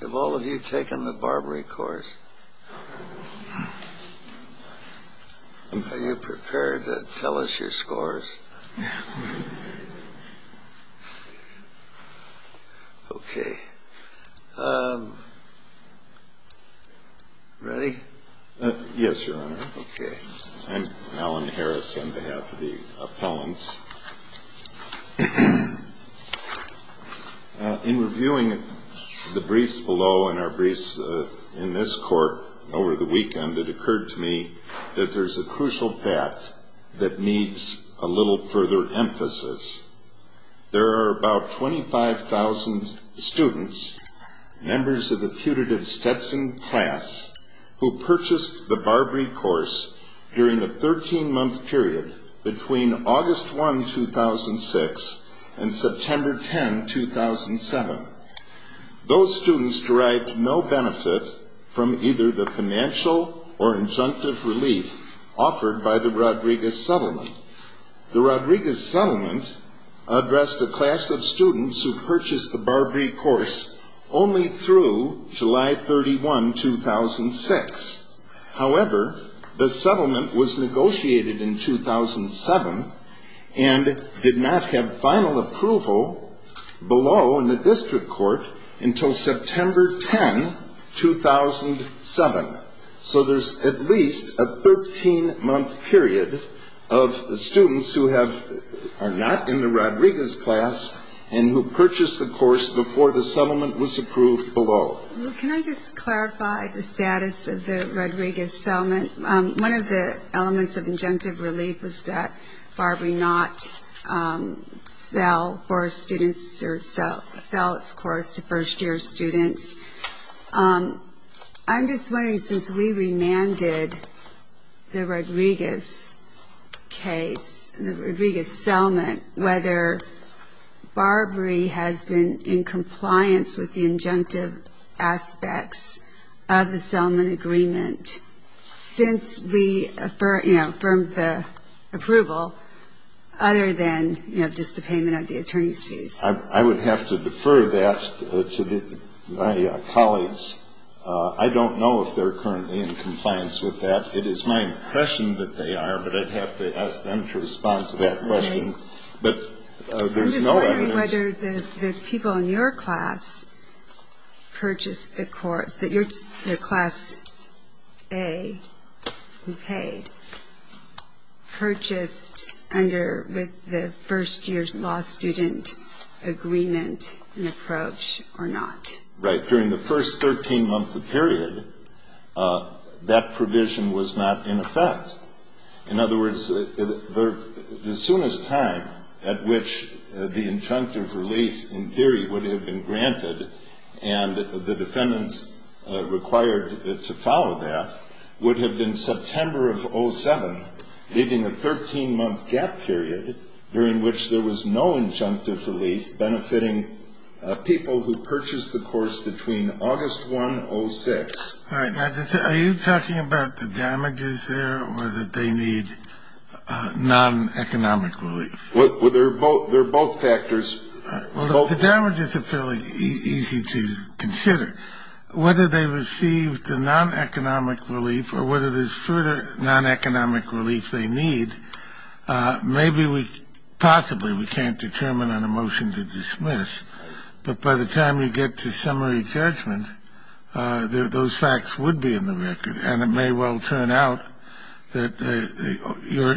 Have all of you taken the Barbary course? Are you prepared to tell us your scores? Yes, Your Honor. I'm Alan Harris on behalf of the appellants. In reviewing the briefs below and our briefs in this court over the weekend, it occurred to me that there's a little further emphasis. There are about 25,000 students, members of the putative Stetson class, who purchased the Barbary course during a 13-month period between August 1, 2006 and September 10, 2007. Those students derived no benefit from either the financial or injunctive relief offered by the Rodriguez settlement. The Rodriguez settlement addressed a class of students who purchased the Barbary course only through July 31, 2006. However, the settlement was negotiated in 2007 and did not have final approval below in the district court until September 10, 2007. So there's at least a 13-month period of students who are not in the Rodriguez class and who purchased the course before the settlement was approved below. Can I just clarify the status of the Rodriguez settlement? One of the elements of injunctive students. I'm just wondering, since we remanded the Rodriguez case, the Rodriguez settlement, whether Barbary has been in compliance with the injunctive aspects of the settlement agreement since we, you know, affirmed the approval, other than, you know, I would have to defer that to my colleagues. I don't know if they're currently in compliance with that. It is my impression that they are, but I'd have to ask them to respond to that question. I'm just wondering whether the people in your class purchased the course, the class A who agreement in approach or not. Right. During the first 13-month period, that provision was not in effect. In other words, the soonest time at which the injunctive relief in theory would have been granted and the defendants required to follow that would have been September of 07, leaving a 13-month gap period during which there was no injunctive relief benefiting people who purchased the course between August 1, 06. All right. Now, are you talking about the damages there or that they need non-economic relief? Well, they're both factors. All right. Well, the damages are fairly easy to consider. Whether they receive the non-economic relief or whether there's further non-economic relief they need, maybe we possibly we can't determine on a motion to dismiss. But by the time we get to summary judgment, those facts would be in the record. And it may well turn out that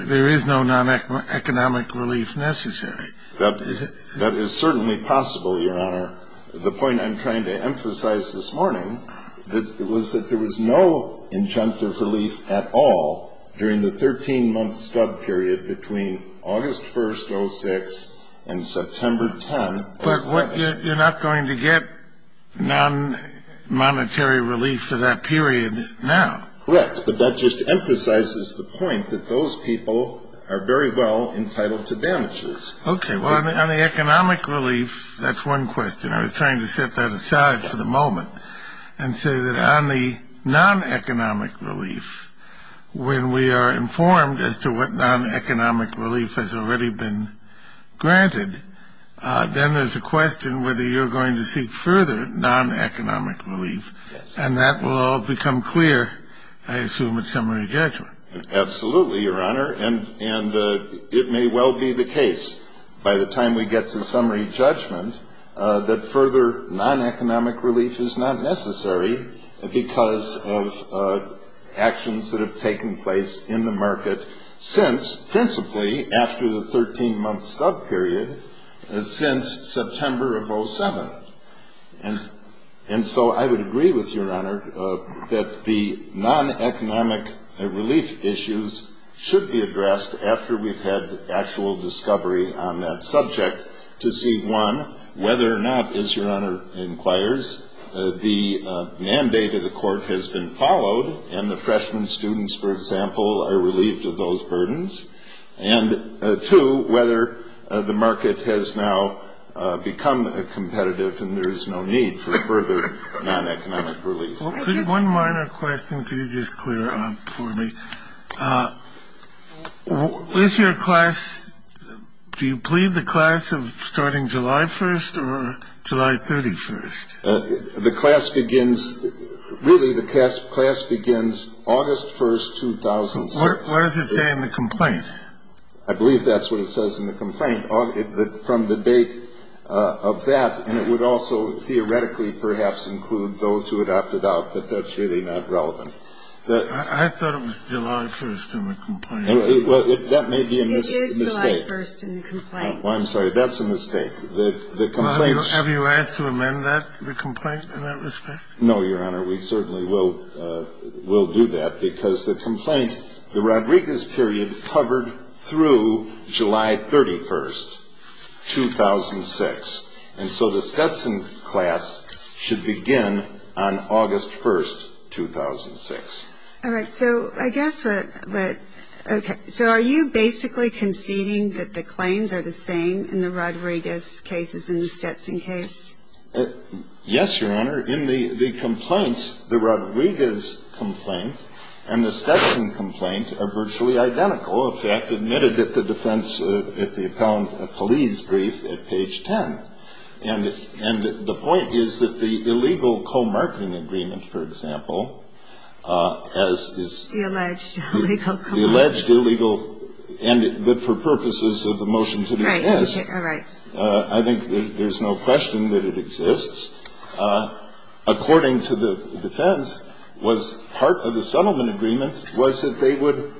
there is no non-economic relief necessary. That is certainly possible, Your Honor. The point I'm trying to emphasize this morning was that there was no injunctive relief at all during the 13-month stub period between August 1, 06 and September 10, 07. But you're not going to get non-monetary relief for that period now? Correct. But that just emphasizes the point that those people are very well entitled to damages. Okay. Well, on the economic relief, that's one question. I was trying to set that aside for the moment and say that on the non-economic relief, when we are informed as to what non-economic relief has already been granted, then there's a question whether you're going to seek further non-economic relief. And that will all become clear, I assume, at summary judgment. Absolutely, Your Honor. And it may well be the case by the time we get to summary judgment that further non-economic relief is not necessary because of actions that have taken place in the market since, principally after the 13-month stub period, since September of 07. And so I would agree with you, Your Honor, that the non-economic relief issues should be addressed after we've had actual discovery on that subject to see, one, whether or not, as Your Honor inquires, the mandate of the court has been followed and the freshman students, for example, are relieved of those burdens, and, two, whether the market has now become competitive and there is no need for further non-economic relief. One minor question, could you just clear up for me? With your class, do you plead the class of starting July 1st or July 31st? The class begins, really the class begins August 1st, 2006. What does it say in the complaint? I believe that's what it says in the complaint, from the date of that, and it would also theoretically perhaps include those who had opted out, but that's really not relevant. I thought it was July 1st in the complaint. Well, that may be a mistake. It is July 1st in the complaint. I'm sorry. That's a mistake. The complaint's – Have you asked to amend that, the complaint, in that respect? No, Your Honor. We certainly will do that, because the complaint, the Rodriguez period, covered through July 31st, 2006, and so the Stetson class should begin on August 1st, 2006. All right. So I guess what – okay. So are you basically conceding that the claims are the same in the Rodriguez cases and the Stetson case? Yes, Your Honor. In the complaint, the Rodriguez complaint and the Stetson complaint are virtually identical. In fact, admitted at the defense, at the account of police brief at page 10. And the point is that the illegal co-marketing agreement, for example, as is – The alleged illegal co-marketing agreement. The alleged illegal – and for purposes of the motion to dismiss, I think there's no question that it exists. According to the defense, part of the settlement agreement was that they would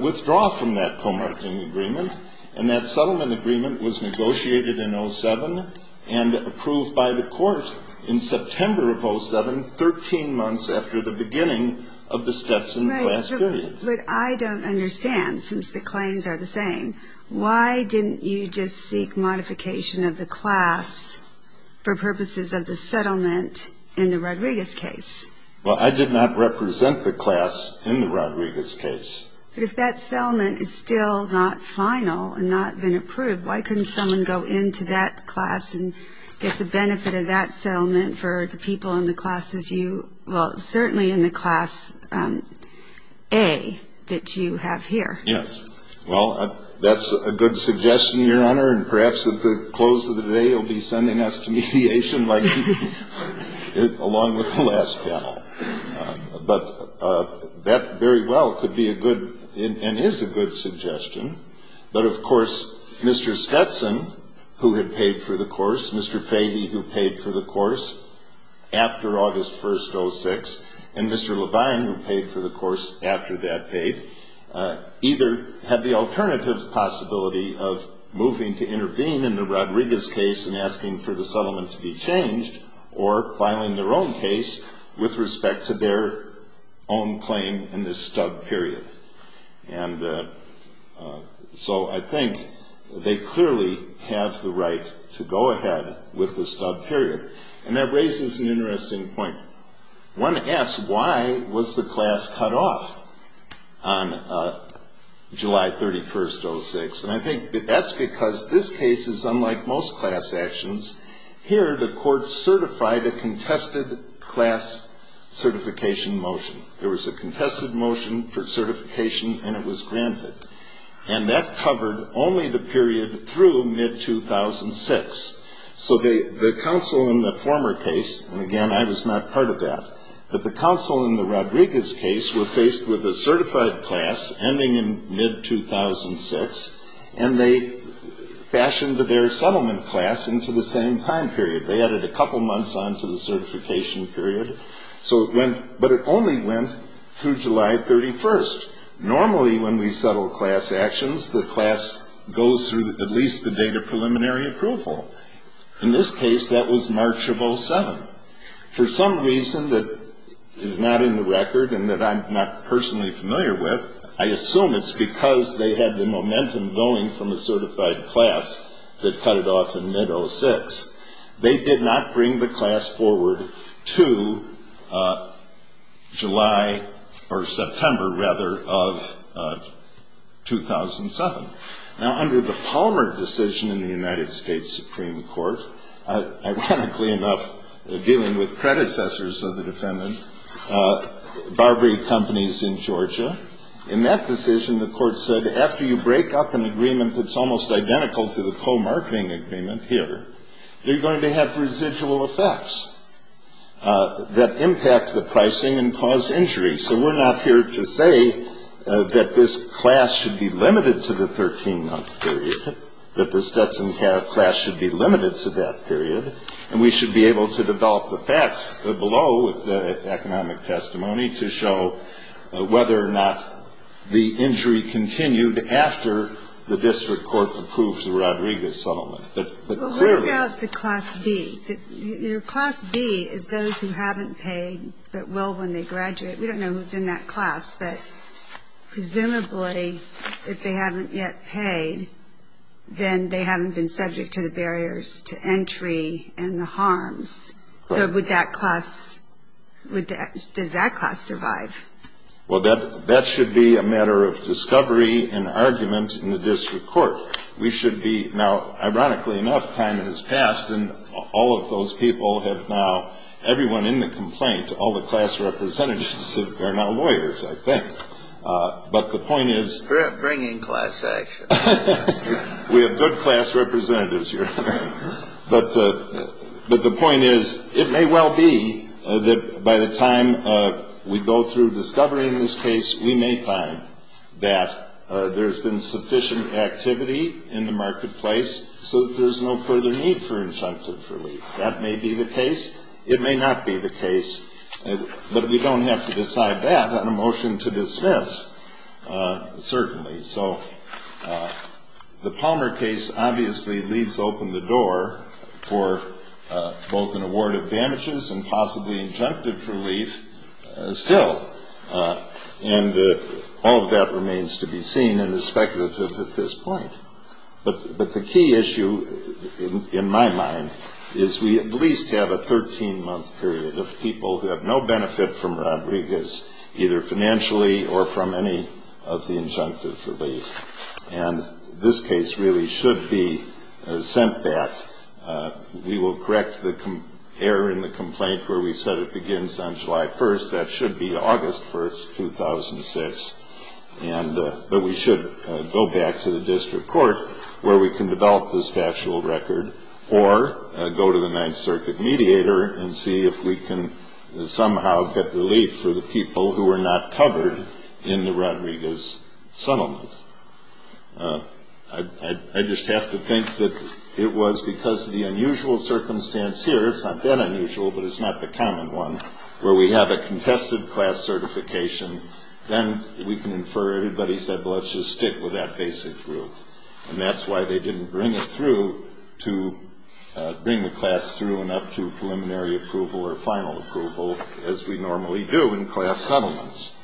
withdraw from that co-marketing agreement, and that settlement agreement was negotiated in 07 and approved by the court in September of 07, 13 months after the beginning of the Stetson class period. Right. But I don't understand, since the claims are the same, why didn't you just seek modification of the class for purposes of the settlement in the Rodriguez case? Well, I did not represent the class in the Rodriguez case. But if that settlement is still not final and not been approved, why couldn't someone go into that class and get the benefit of that settlement for the people in the classes you – well, certainly in the class A that you have here? Yes. Well, that's a good suggestion, Your Honor, and perhaps at the close of the day you'll be sending us to mediation like you did along with the last panel. But that very well could be a good – and is a good suggestion. But of course, Mr. Stetson, who had paid for the course, Mr. Fahey, who paid for the course after August 1st, 06, and Mr. Levine, who paid for the course after that paid, either had the alternative possibility of moving to intervene in the Rodriguez case and asking for the settlement to be changed or filing their own case with respect to their own claim in this stub period. And so I think they clearly have the right to go ahead with the stub period. And that raises an interesting point. One asks why was the class cut off on July 31st, 06? And I think that's because this case is unlike most class actions. Here the court certified a contested class certification motion. There was a contested motion for certification and it was granted. And that covered only the period through mid-2006. So the counsel in the former case – and again, I was not part of that – but the counsel in the Rodriguez case were faced with a certified class ending in mid-2006, and they fashioned their settlement class into the same time period. They added a couple months on to the certification period. So it went – but it only went through July 31st. Normally when we settle class actions, the class goes through at least the date of preliminary approval. In this case, that was March of 07. For some reason that is not in the record and that I'm not personally familiar with, I assume it's because they had the momentum going from the certified class that cut it off in mid-06. They did not bring the class forward to July – or September, rather of 2007. Now, under the Palmer decision in the United States Supreme Court, ironically enough, dealing with predecessors of the defendant, Barbary Companies in Georgia, in that decision the court said, after you break up an agreement that's almost identical to the co-marketing agreement here, you're going to have residual effects that impact the pricing and cause injury. So we're not here to say that this class should be limited to the 13-month period, that the Stetson-Carrick class should be limited to that period. And we should be able to develop the facts below, with the economic testimony, to show whether or not the injury continued after the district court approves the Rodriguez settlement. But clearly – Well, what about the class B? Your class B is those who haven't paid but will when they graduate. We don't know who's in that class, but presumably, if they haven't yet paid, then they haven't been subject to the barriers to entry and the harms. So would that class – does that class survive? Well, that should be a matter of discovery and argument in the district court. We should be – now, ironically enough, time has passed, and all of those people have now – everyone in the complaint, all the class representatives are now lawyers, I think. But the point is – Bring in class action. We have good class representatives here. But the point is, it may well be that by the time we go through discovering this case, we may find that there's been sufficient activity in the marketplace so that there's no further need for injunctive relief. That may be the case. But we don't have to decide that on a motion to dismiss, certainly. So the Palmer case obviously leaves open the door for both an award of damages and possibly injunctive relief still. And all of that remains to be seen and is speculative at this point. But the key issue, in my mind, is we at least have a 13-month period of people who have no benefit from Rodriguez, either financially or from any of the injunctive relief. And this case really should be sent back. We will correct the error in the complaint where we said it begins on July 1st. That should be August 1st, 2006. And – but we should go back to the district court where we can develop this factual record or go to the Ninth Circuit mediator and see if we can somehow get relief for the people who were not covered in the Rodriguez settlement. I just have to think that it was because of the unusual circumstance here – it's not that unusual, but it's not the common one – where we have a contested class certification. Then we can infer everybody said, well, let's just stick with that basic group. And that's why they didn't bring it through to bring the class through and up to preliminary approval or final approval as we normally do in class settlements.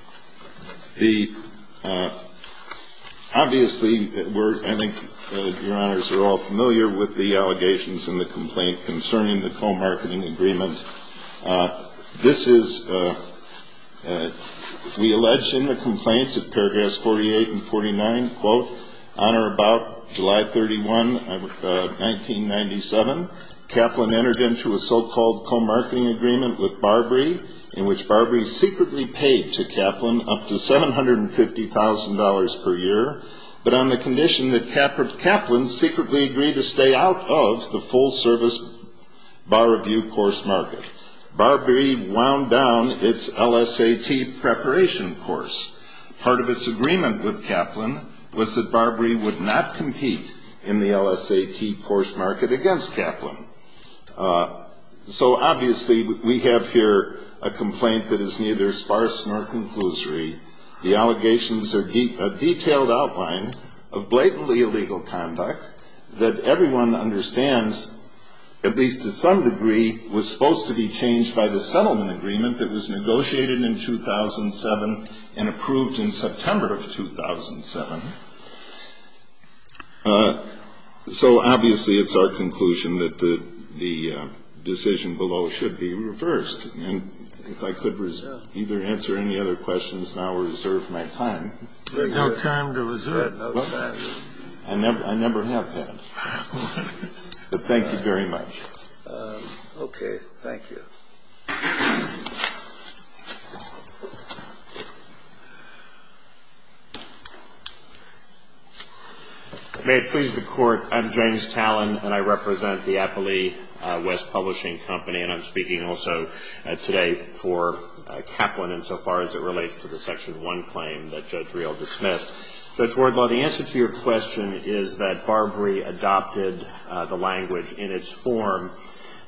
Obviously, we're – I think Your Honors are all familiar with the allegations in the complaints at paragraphs 48 and 49. Quote, on or about July 31, 1997, Kaplan entered into a so-called co-marketing agreement with Barbary in which Barbary secretly paid to Kaplan up to $750,000 per year, but on the condition that Kaplan secretly agreed to stay out of the full-service bar review course market. Barbary wound down its LSAT preparation course. Part of its agreement with Kaplan was that Barbary would not compete in the LSAT course market against Kaplan. So obviously, we have here a complaint that is neither sparse nor conclusory. The allegations are a detailed outline of blatantly illegal conduct that everyone understands, at least to some degree, was supposed to be changed by the settlement agreement that was negotiated in 2007 and approved in September of 2007. So obviously, it's our conclusion that the decision below should be reversed. And if I could either answer any other questions now or reserve my time. We have no time to reserve. I never have had. But thank you very much. Okay. Thank you. May it please the Court, I'm James Tallon, and I represent the Appley West Publishing Company, and I'm speaking also today for Kaplan insofar as it relates to the Section 1 claim that Judge Real dismissed. Judge Wardlaw, the answer to your question is that Barbary adopted the language in its form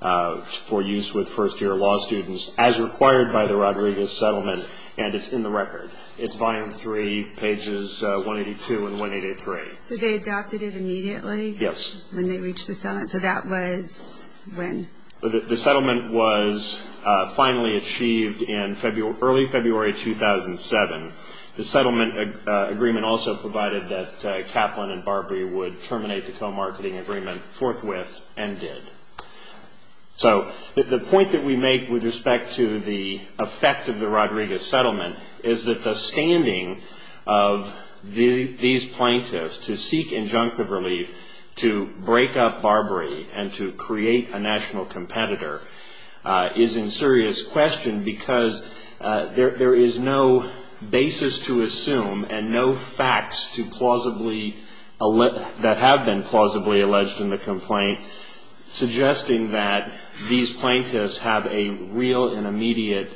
for use with first-year law students as required by the Rodriguez settlement, and it's in the record. It's Volume 3, pages 182 and 183. So they adopted it immediately? Yes. When they reached the settlement? So that was when? The settlement was finally achieved in early February 2007. The settlement agreement also provided that Kaplan and Barbary would terminate the co-marketing agreement forthwith, and did. So the point that we make with respect to the effect of the Rodriguez settlement is that the standing of these plaintiffs to seek injunctive relief to break up Barbary and to create a national competitor is in serious question because there is no basis to assume and no facts to plausibly – that have been plausibly alleged in the complaint suggesting that these plaintiffs have a real and immediate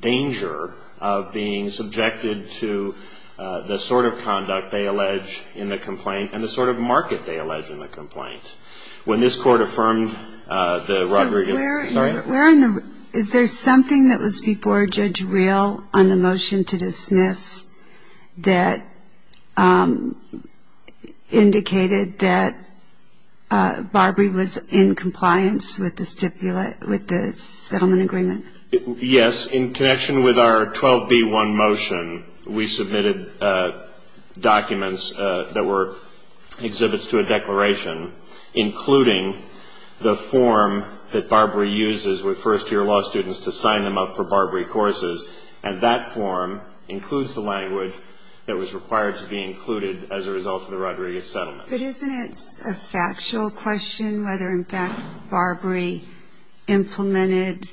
danger of being subjected to the sort of conduct they allege in the complaint and the sort of market they allege in the complaint. When this Court affirmed the Rodriguez – that indicated that Barbary was in compliance with the settlement agreement? Yes. In connection with our 12B1 motion, we submitted documents that were exhibits to a declaration, including the form that Barbary uses with first-year law students to sign them up for Barbary courses, and that form includes the language that was required to be included as a result of the Rodriguez settlement. But isn't it a factual question whether, in fact, Barbary implemented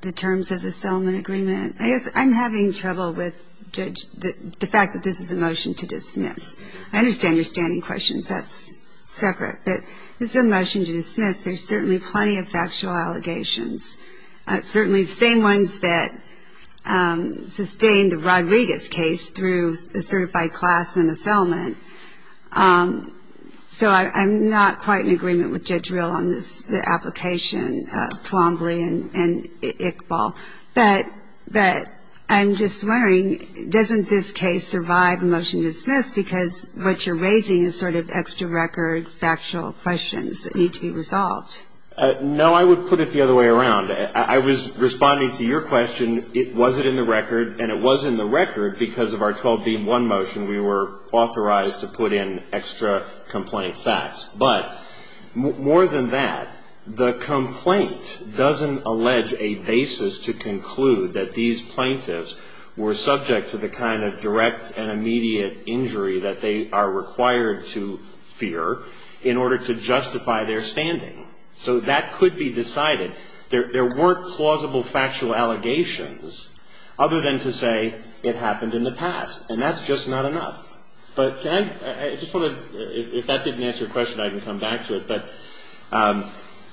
the terms of the settlement agreement? I guess I'm having trouble with the fact that this is a motion to dismiss. I understand your standing questions. That's separate. But this is a motion to dismiss. There's certainly plenty of factual allegations. Certainly the same ones that sustained the Rodriguez case through a certified class in the settlement. So I'm not quite in agreement with Judge Rill on the application, Twombly and Iqbal. But I'm just wondering, doesn't this case survive a motion to dismiss because what you're raising is sort of extra-record No, I would put it the other way around. I was responding to your question, was it in the record? And it was in the record because of our 12B1 motion we were authorized to put in extra complaint facts. But more than that, the complaint doesn't allege a basis to conclude that these plaintiffs were subject to the kind of direct and immediate injury that they are required to fear in order to justify their standing. So that could be decided. There weren't plausible factual allegations other than to say it happened in the past. And that's just not enough. But can I just want to, if that didn't answer your question, I can come back to it. But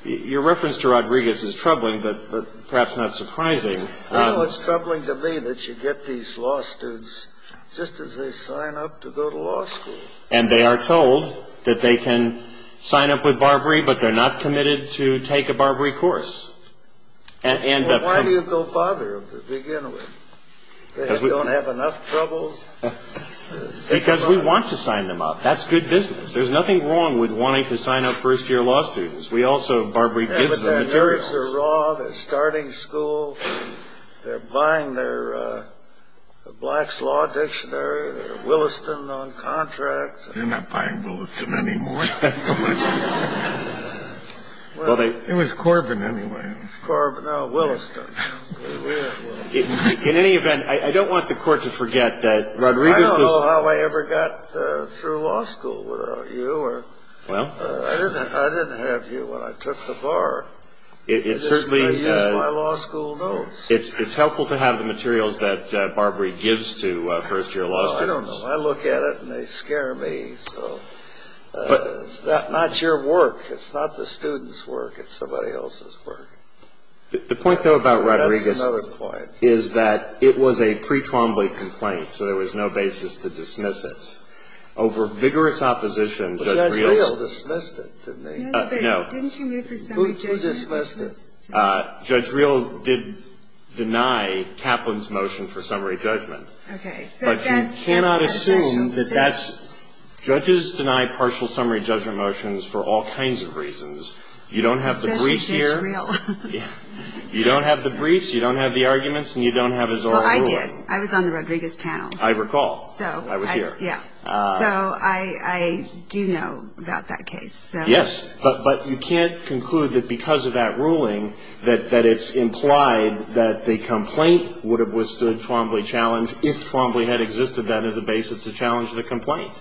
your reference to Rodriguez is troubling, but perhaps not surprising. You know, it's troubling to me that you get these law students just as they sign up to go to law school. And they are told that they can sign up with Barbary, but they're not committed to take a Barbary course. Well, why do you go bother them to begin with? They don't have enough trouble? Because we want to sign them up. That's good business. There's nothing wrong with wanting to sign up first-year law students. We also, Barbary gives them materials. The papers are raw. They're starting school. They're buying their Black's Law Dictionary. They're Williston on contract. They're not buying Williston anymore. It was Corbin anyway. Corbin. No, Williston. In any event, I don't want the Court to forget that Rodriguez was the ---- I don't know how I ever got through law school without you. Well. I didn't have you when I took the bar. I used my law school notes. It's helpful to have the materials that Barbary gives to first-year law students. I don't know. I look at it, and they scare me. It's not your work. It's not the students' work. It's somebody else's work. The point, though, about Rodriguez is that it was a pre-Trombley complaint, so there was no basis to dismiss it. Over vigorous opposition, Judge Rios ---- Judge Rios dismissed it to me. No. Didn't you move for summary judgment? Judge Rios did deny Kaplan's motion for summary judgment. Okay. But you cannot assume that that's ---- Judges deny partial summary judgment motions for all kinds of reasons. You don't have the briefs here. Especially Judge Rios. You don't have the briefs, you don't have the arguments, and you don't have his oral ruling. Well, I did. I was on the Rodriguez panel. I recall. I was here. Yeah. So I do know about that case. Yes. But you can't conclude that because of that ruling that it's implied that the complaint would have withstood Trombley challenge if Trombley had existed then as a basis to challenge the complaint.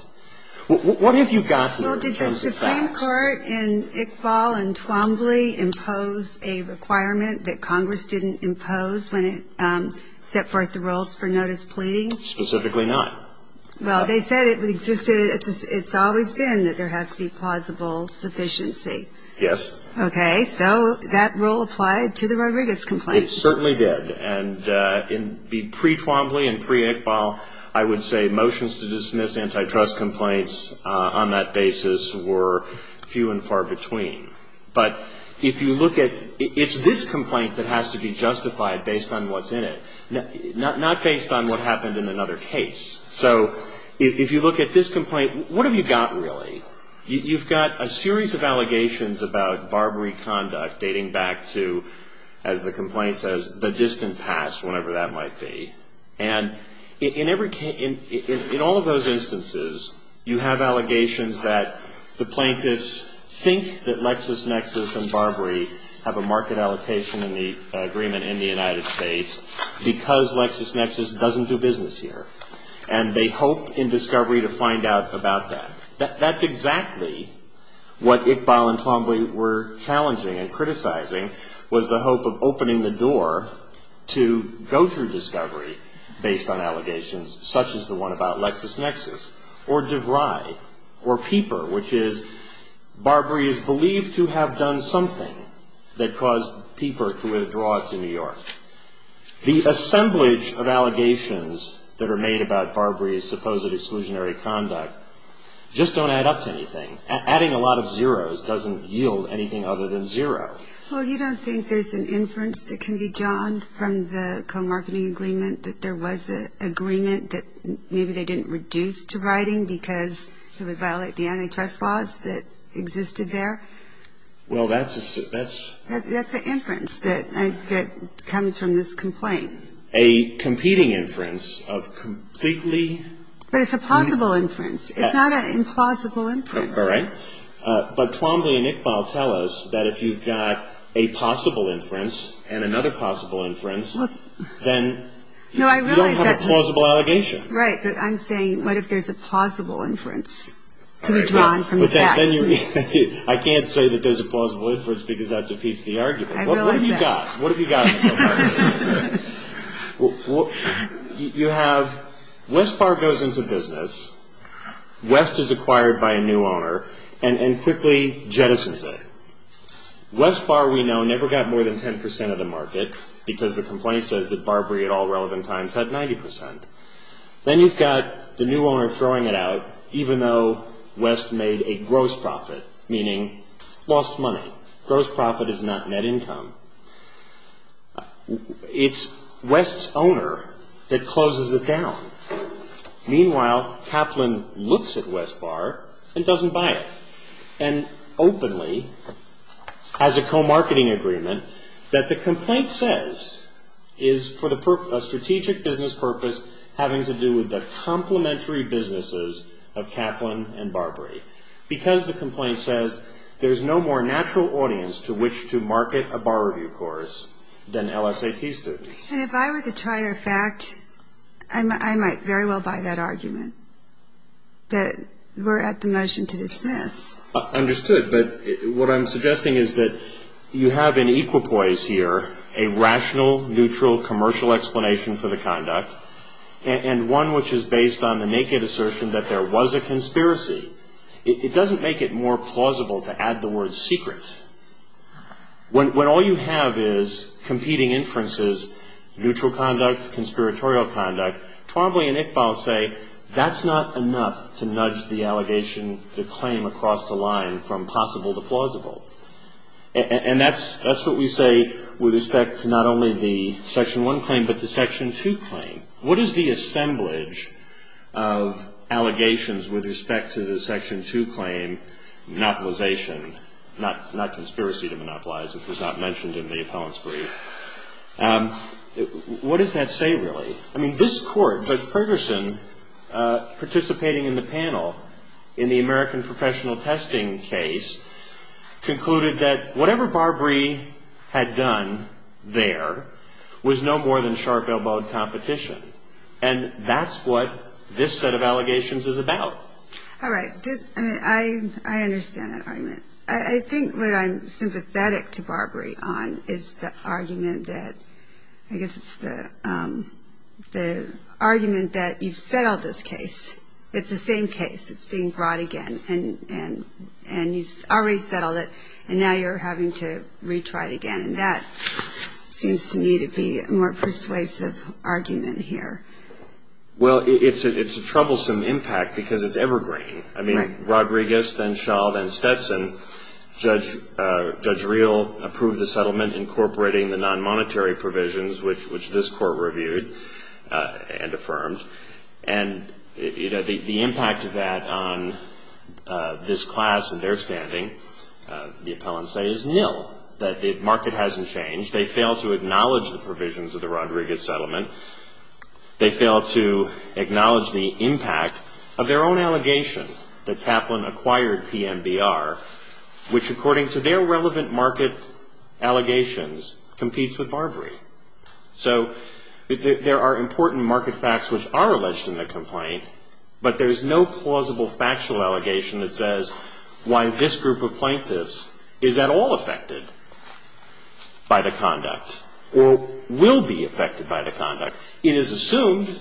What have you got here in terms of facts? Well, did the Supreme Court in Iqbal and Trombley impose a requirement that Congress didn't impose when it set forth the rules for notice pleading? Specifically not. Well, they said it existed. It's always been that there has to be plausible sufficiency. Yes. Okay. So that rule applied to the Rodriguez complaint. It certainly did. And in the pre-Trombley and pre-Iqbal, I would say motions to dismiss antitrust complaints on that basis were few and far between. But if you look at ---- it's this complaint that has to be justified based on what's in it. Not based on what happened in another case. So if you look at this complaint, what have you got really? You've got a series of allegations about Barbary conduct dating back to, as the complaint says, the distant past, whenever that might be. And in all of those instances, you have allegations that the plaintiffs think that Lexis Nexis and Barbary have a market allocation agreement in the United States because Lexis Nexis doesn't do business here. And they hope in discovery to find out about that. That's exactly what Iqbal and Trombley were challenging and criticizing was the hope of opening the door to go through discovery based on allegations such as the one about Lexis Nexis or DeVry or Peeper, which is Barbary is believed to have done something that caused Peeper to withdraw to New York. The assemblage of allegations that are made about Barbary's supposed exclusionary conduct just don't add up to anything. Adding a lot of zeros doesn't yield anything other than zero. Well, you don't think there's an inference that can be drawn from the co-marketing agreement that there was an agreement that maybe they didn't reduce to writing because it would violate the antitrust laws that existed there? Well, that's a ---- That's an inference that comes from this complaint. A competing inference of completely ---- But it's a plausible inference. It's not an implausible inference. All right. But Trombley and Iqbal tell us that if you've got a possible inference and another possible inference, then you don't have a plausible allegation. Right. But I'm saying what if there's a plausible inference to be drawn from that? I can't say that there's a plausible inference because that defeats the argument. What have you got? What have you got in the co-marketing agreement? You have West Bar goes into business. West is acquired by a new owner and quickly jettisons it. West Bar, we know, never got more than 10 percent of the market because the complaint says that Barbary at all relevant times had 90 percent. Then you've got the new owner throwing it out even though West made a gross profit, meaning lost money. Gross profit is not net income. It's West's owner that closes it down. Meanwhile, Kaplan looks at West Bar and doesn't buy it and openly has a co-marketing agreement that the complaint says is for a strategic business purpose having to do with the complementary businesses of Kaplan and Barbary because the complaint says there's no more natural audience to which to market a bar review course than LSAT students. And if I were to try your fact, I might very well buy that argument, but we're at the motion to dismiss. Understood, but what I'm suggesting is that you have in equipoise here a rational, neutral, commercial explanation for the conduct and one which is based on the naked assertion that there was a conspiracy. It doesn't make it more plausible to add the word secret. When all you have is competing inferences, neutral conduct, conspiratorial conduct, Twombly and Iqbal say that's not enough to nudge the allegation, the claim across the line from possible to plausible. And that's what we say with respect to not only the Section 1 claim, but the Section 2 claim. What is the assemblage of allegations with respect to the Section 2 claim monopolization, not conspiracy to monopolize, which was not mentioned in the appellant's brief? What does that say, really? I mean, this Court, Judge Perkerson, participating in the panel in the American professional testing case, concluded that whatever Barbree had done there was no more than sharp-elbowed competition. And that's what this set of allegations is about. All right. Well, I mean, I understand that argument. I think what I'm sympathetic to Barbree on is the argument that, I guess it's the argument that you've settled this case. It's the same case. It's being brought again, and you already settled it, and now you're having to retry it again. And that seems to me to be a more persuasive argument here. Well, it's a troublesome impact, because it's evergreen. I mean, Rodriguez, then Shaw, then Stetson, Judge Reel approved the settlement incorporating the nonmonetary provisions, which this Court reviewed and affirmed. And the impact of that on this class and their standing, the appellants say, is nil, that the market hasn't changed. They fail to acknowledge the provisions of the Rodriguez settlement. They fail to acknowledge the impact of their own allegation that Kaplan acquired PMBR, which, according to their relevant market allegations, competes with Barbree. So there are important market facts which are alleged in the complaint, but there's no plausible factual allegation that says why this group of plaintiffs is at all affected by the conduct or will be affected by the conduct. It is assumed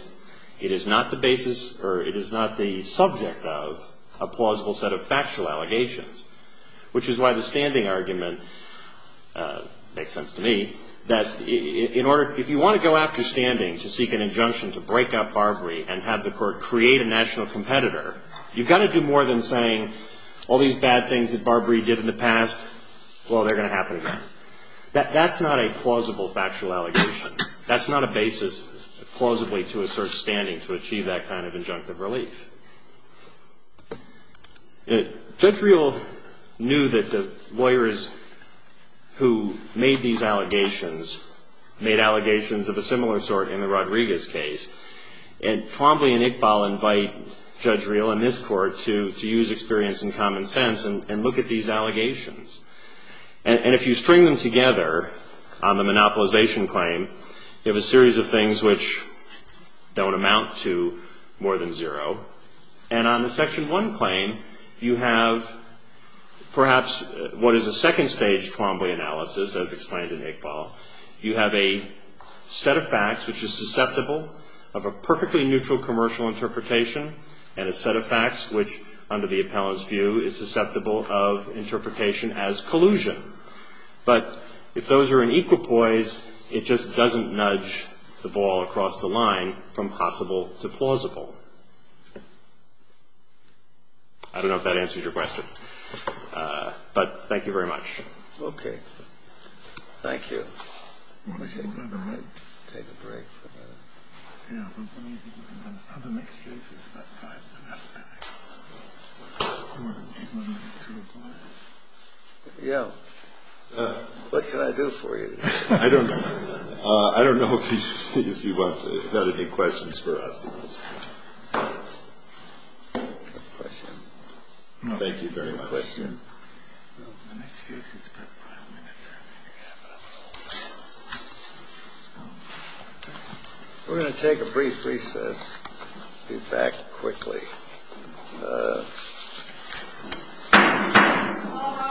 it is not the basis or it is not the subject of a plausible set of factual allegations, which is why the standing argument makes sense to me, that if you want to go after standing to seek an injunction to break up Barbree and have the Court create a national competitor, you've got to do more than saying, all these bad things that Barbree did in the past, well, they're going to happen again. That's not a plausible factual allegation. That's not a basis plausibly to assert standing to achieve that kind of injunctive relief. Judge Reel knew that the lawyers who made these allegations made allegations of a similar sort in the Rodriguez case, and Twombly and Iqbal invite Judge Reel and this Court to use experience and common sense and look at these allegations. And if you string them together on the monopolization claim, you have a series of things which don't amount to more than zero. And on the Section 1 claim, you have perhaps what is a second-stage Twombly analysis, as explained in Iqbal. You have a set of facts which is susceptible of a perfectly neutral commercial interpretation and a set of facts which, under the appellant's view, is susceptible of interpretation as collusion. But if those are in equal poise, it just doesn't nudge the ball across the line from possible to plausible. I don't know if that answers your question. But thank you very much. Thank you. Yeah. Yeah. What can I do for you? I don't know if you've got any questions for us. Thank you very much. We're going to take a brief recess. Be back quickly.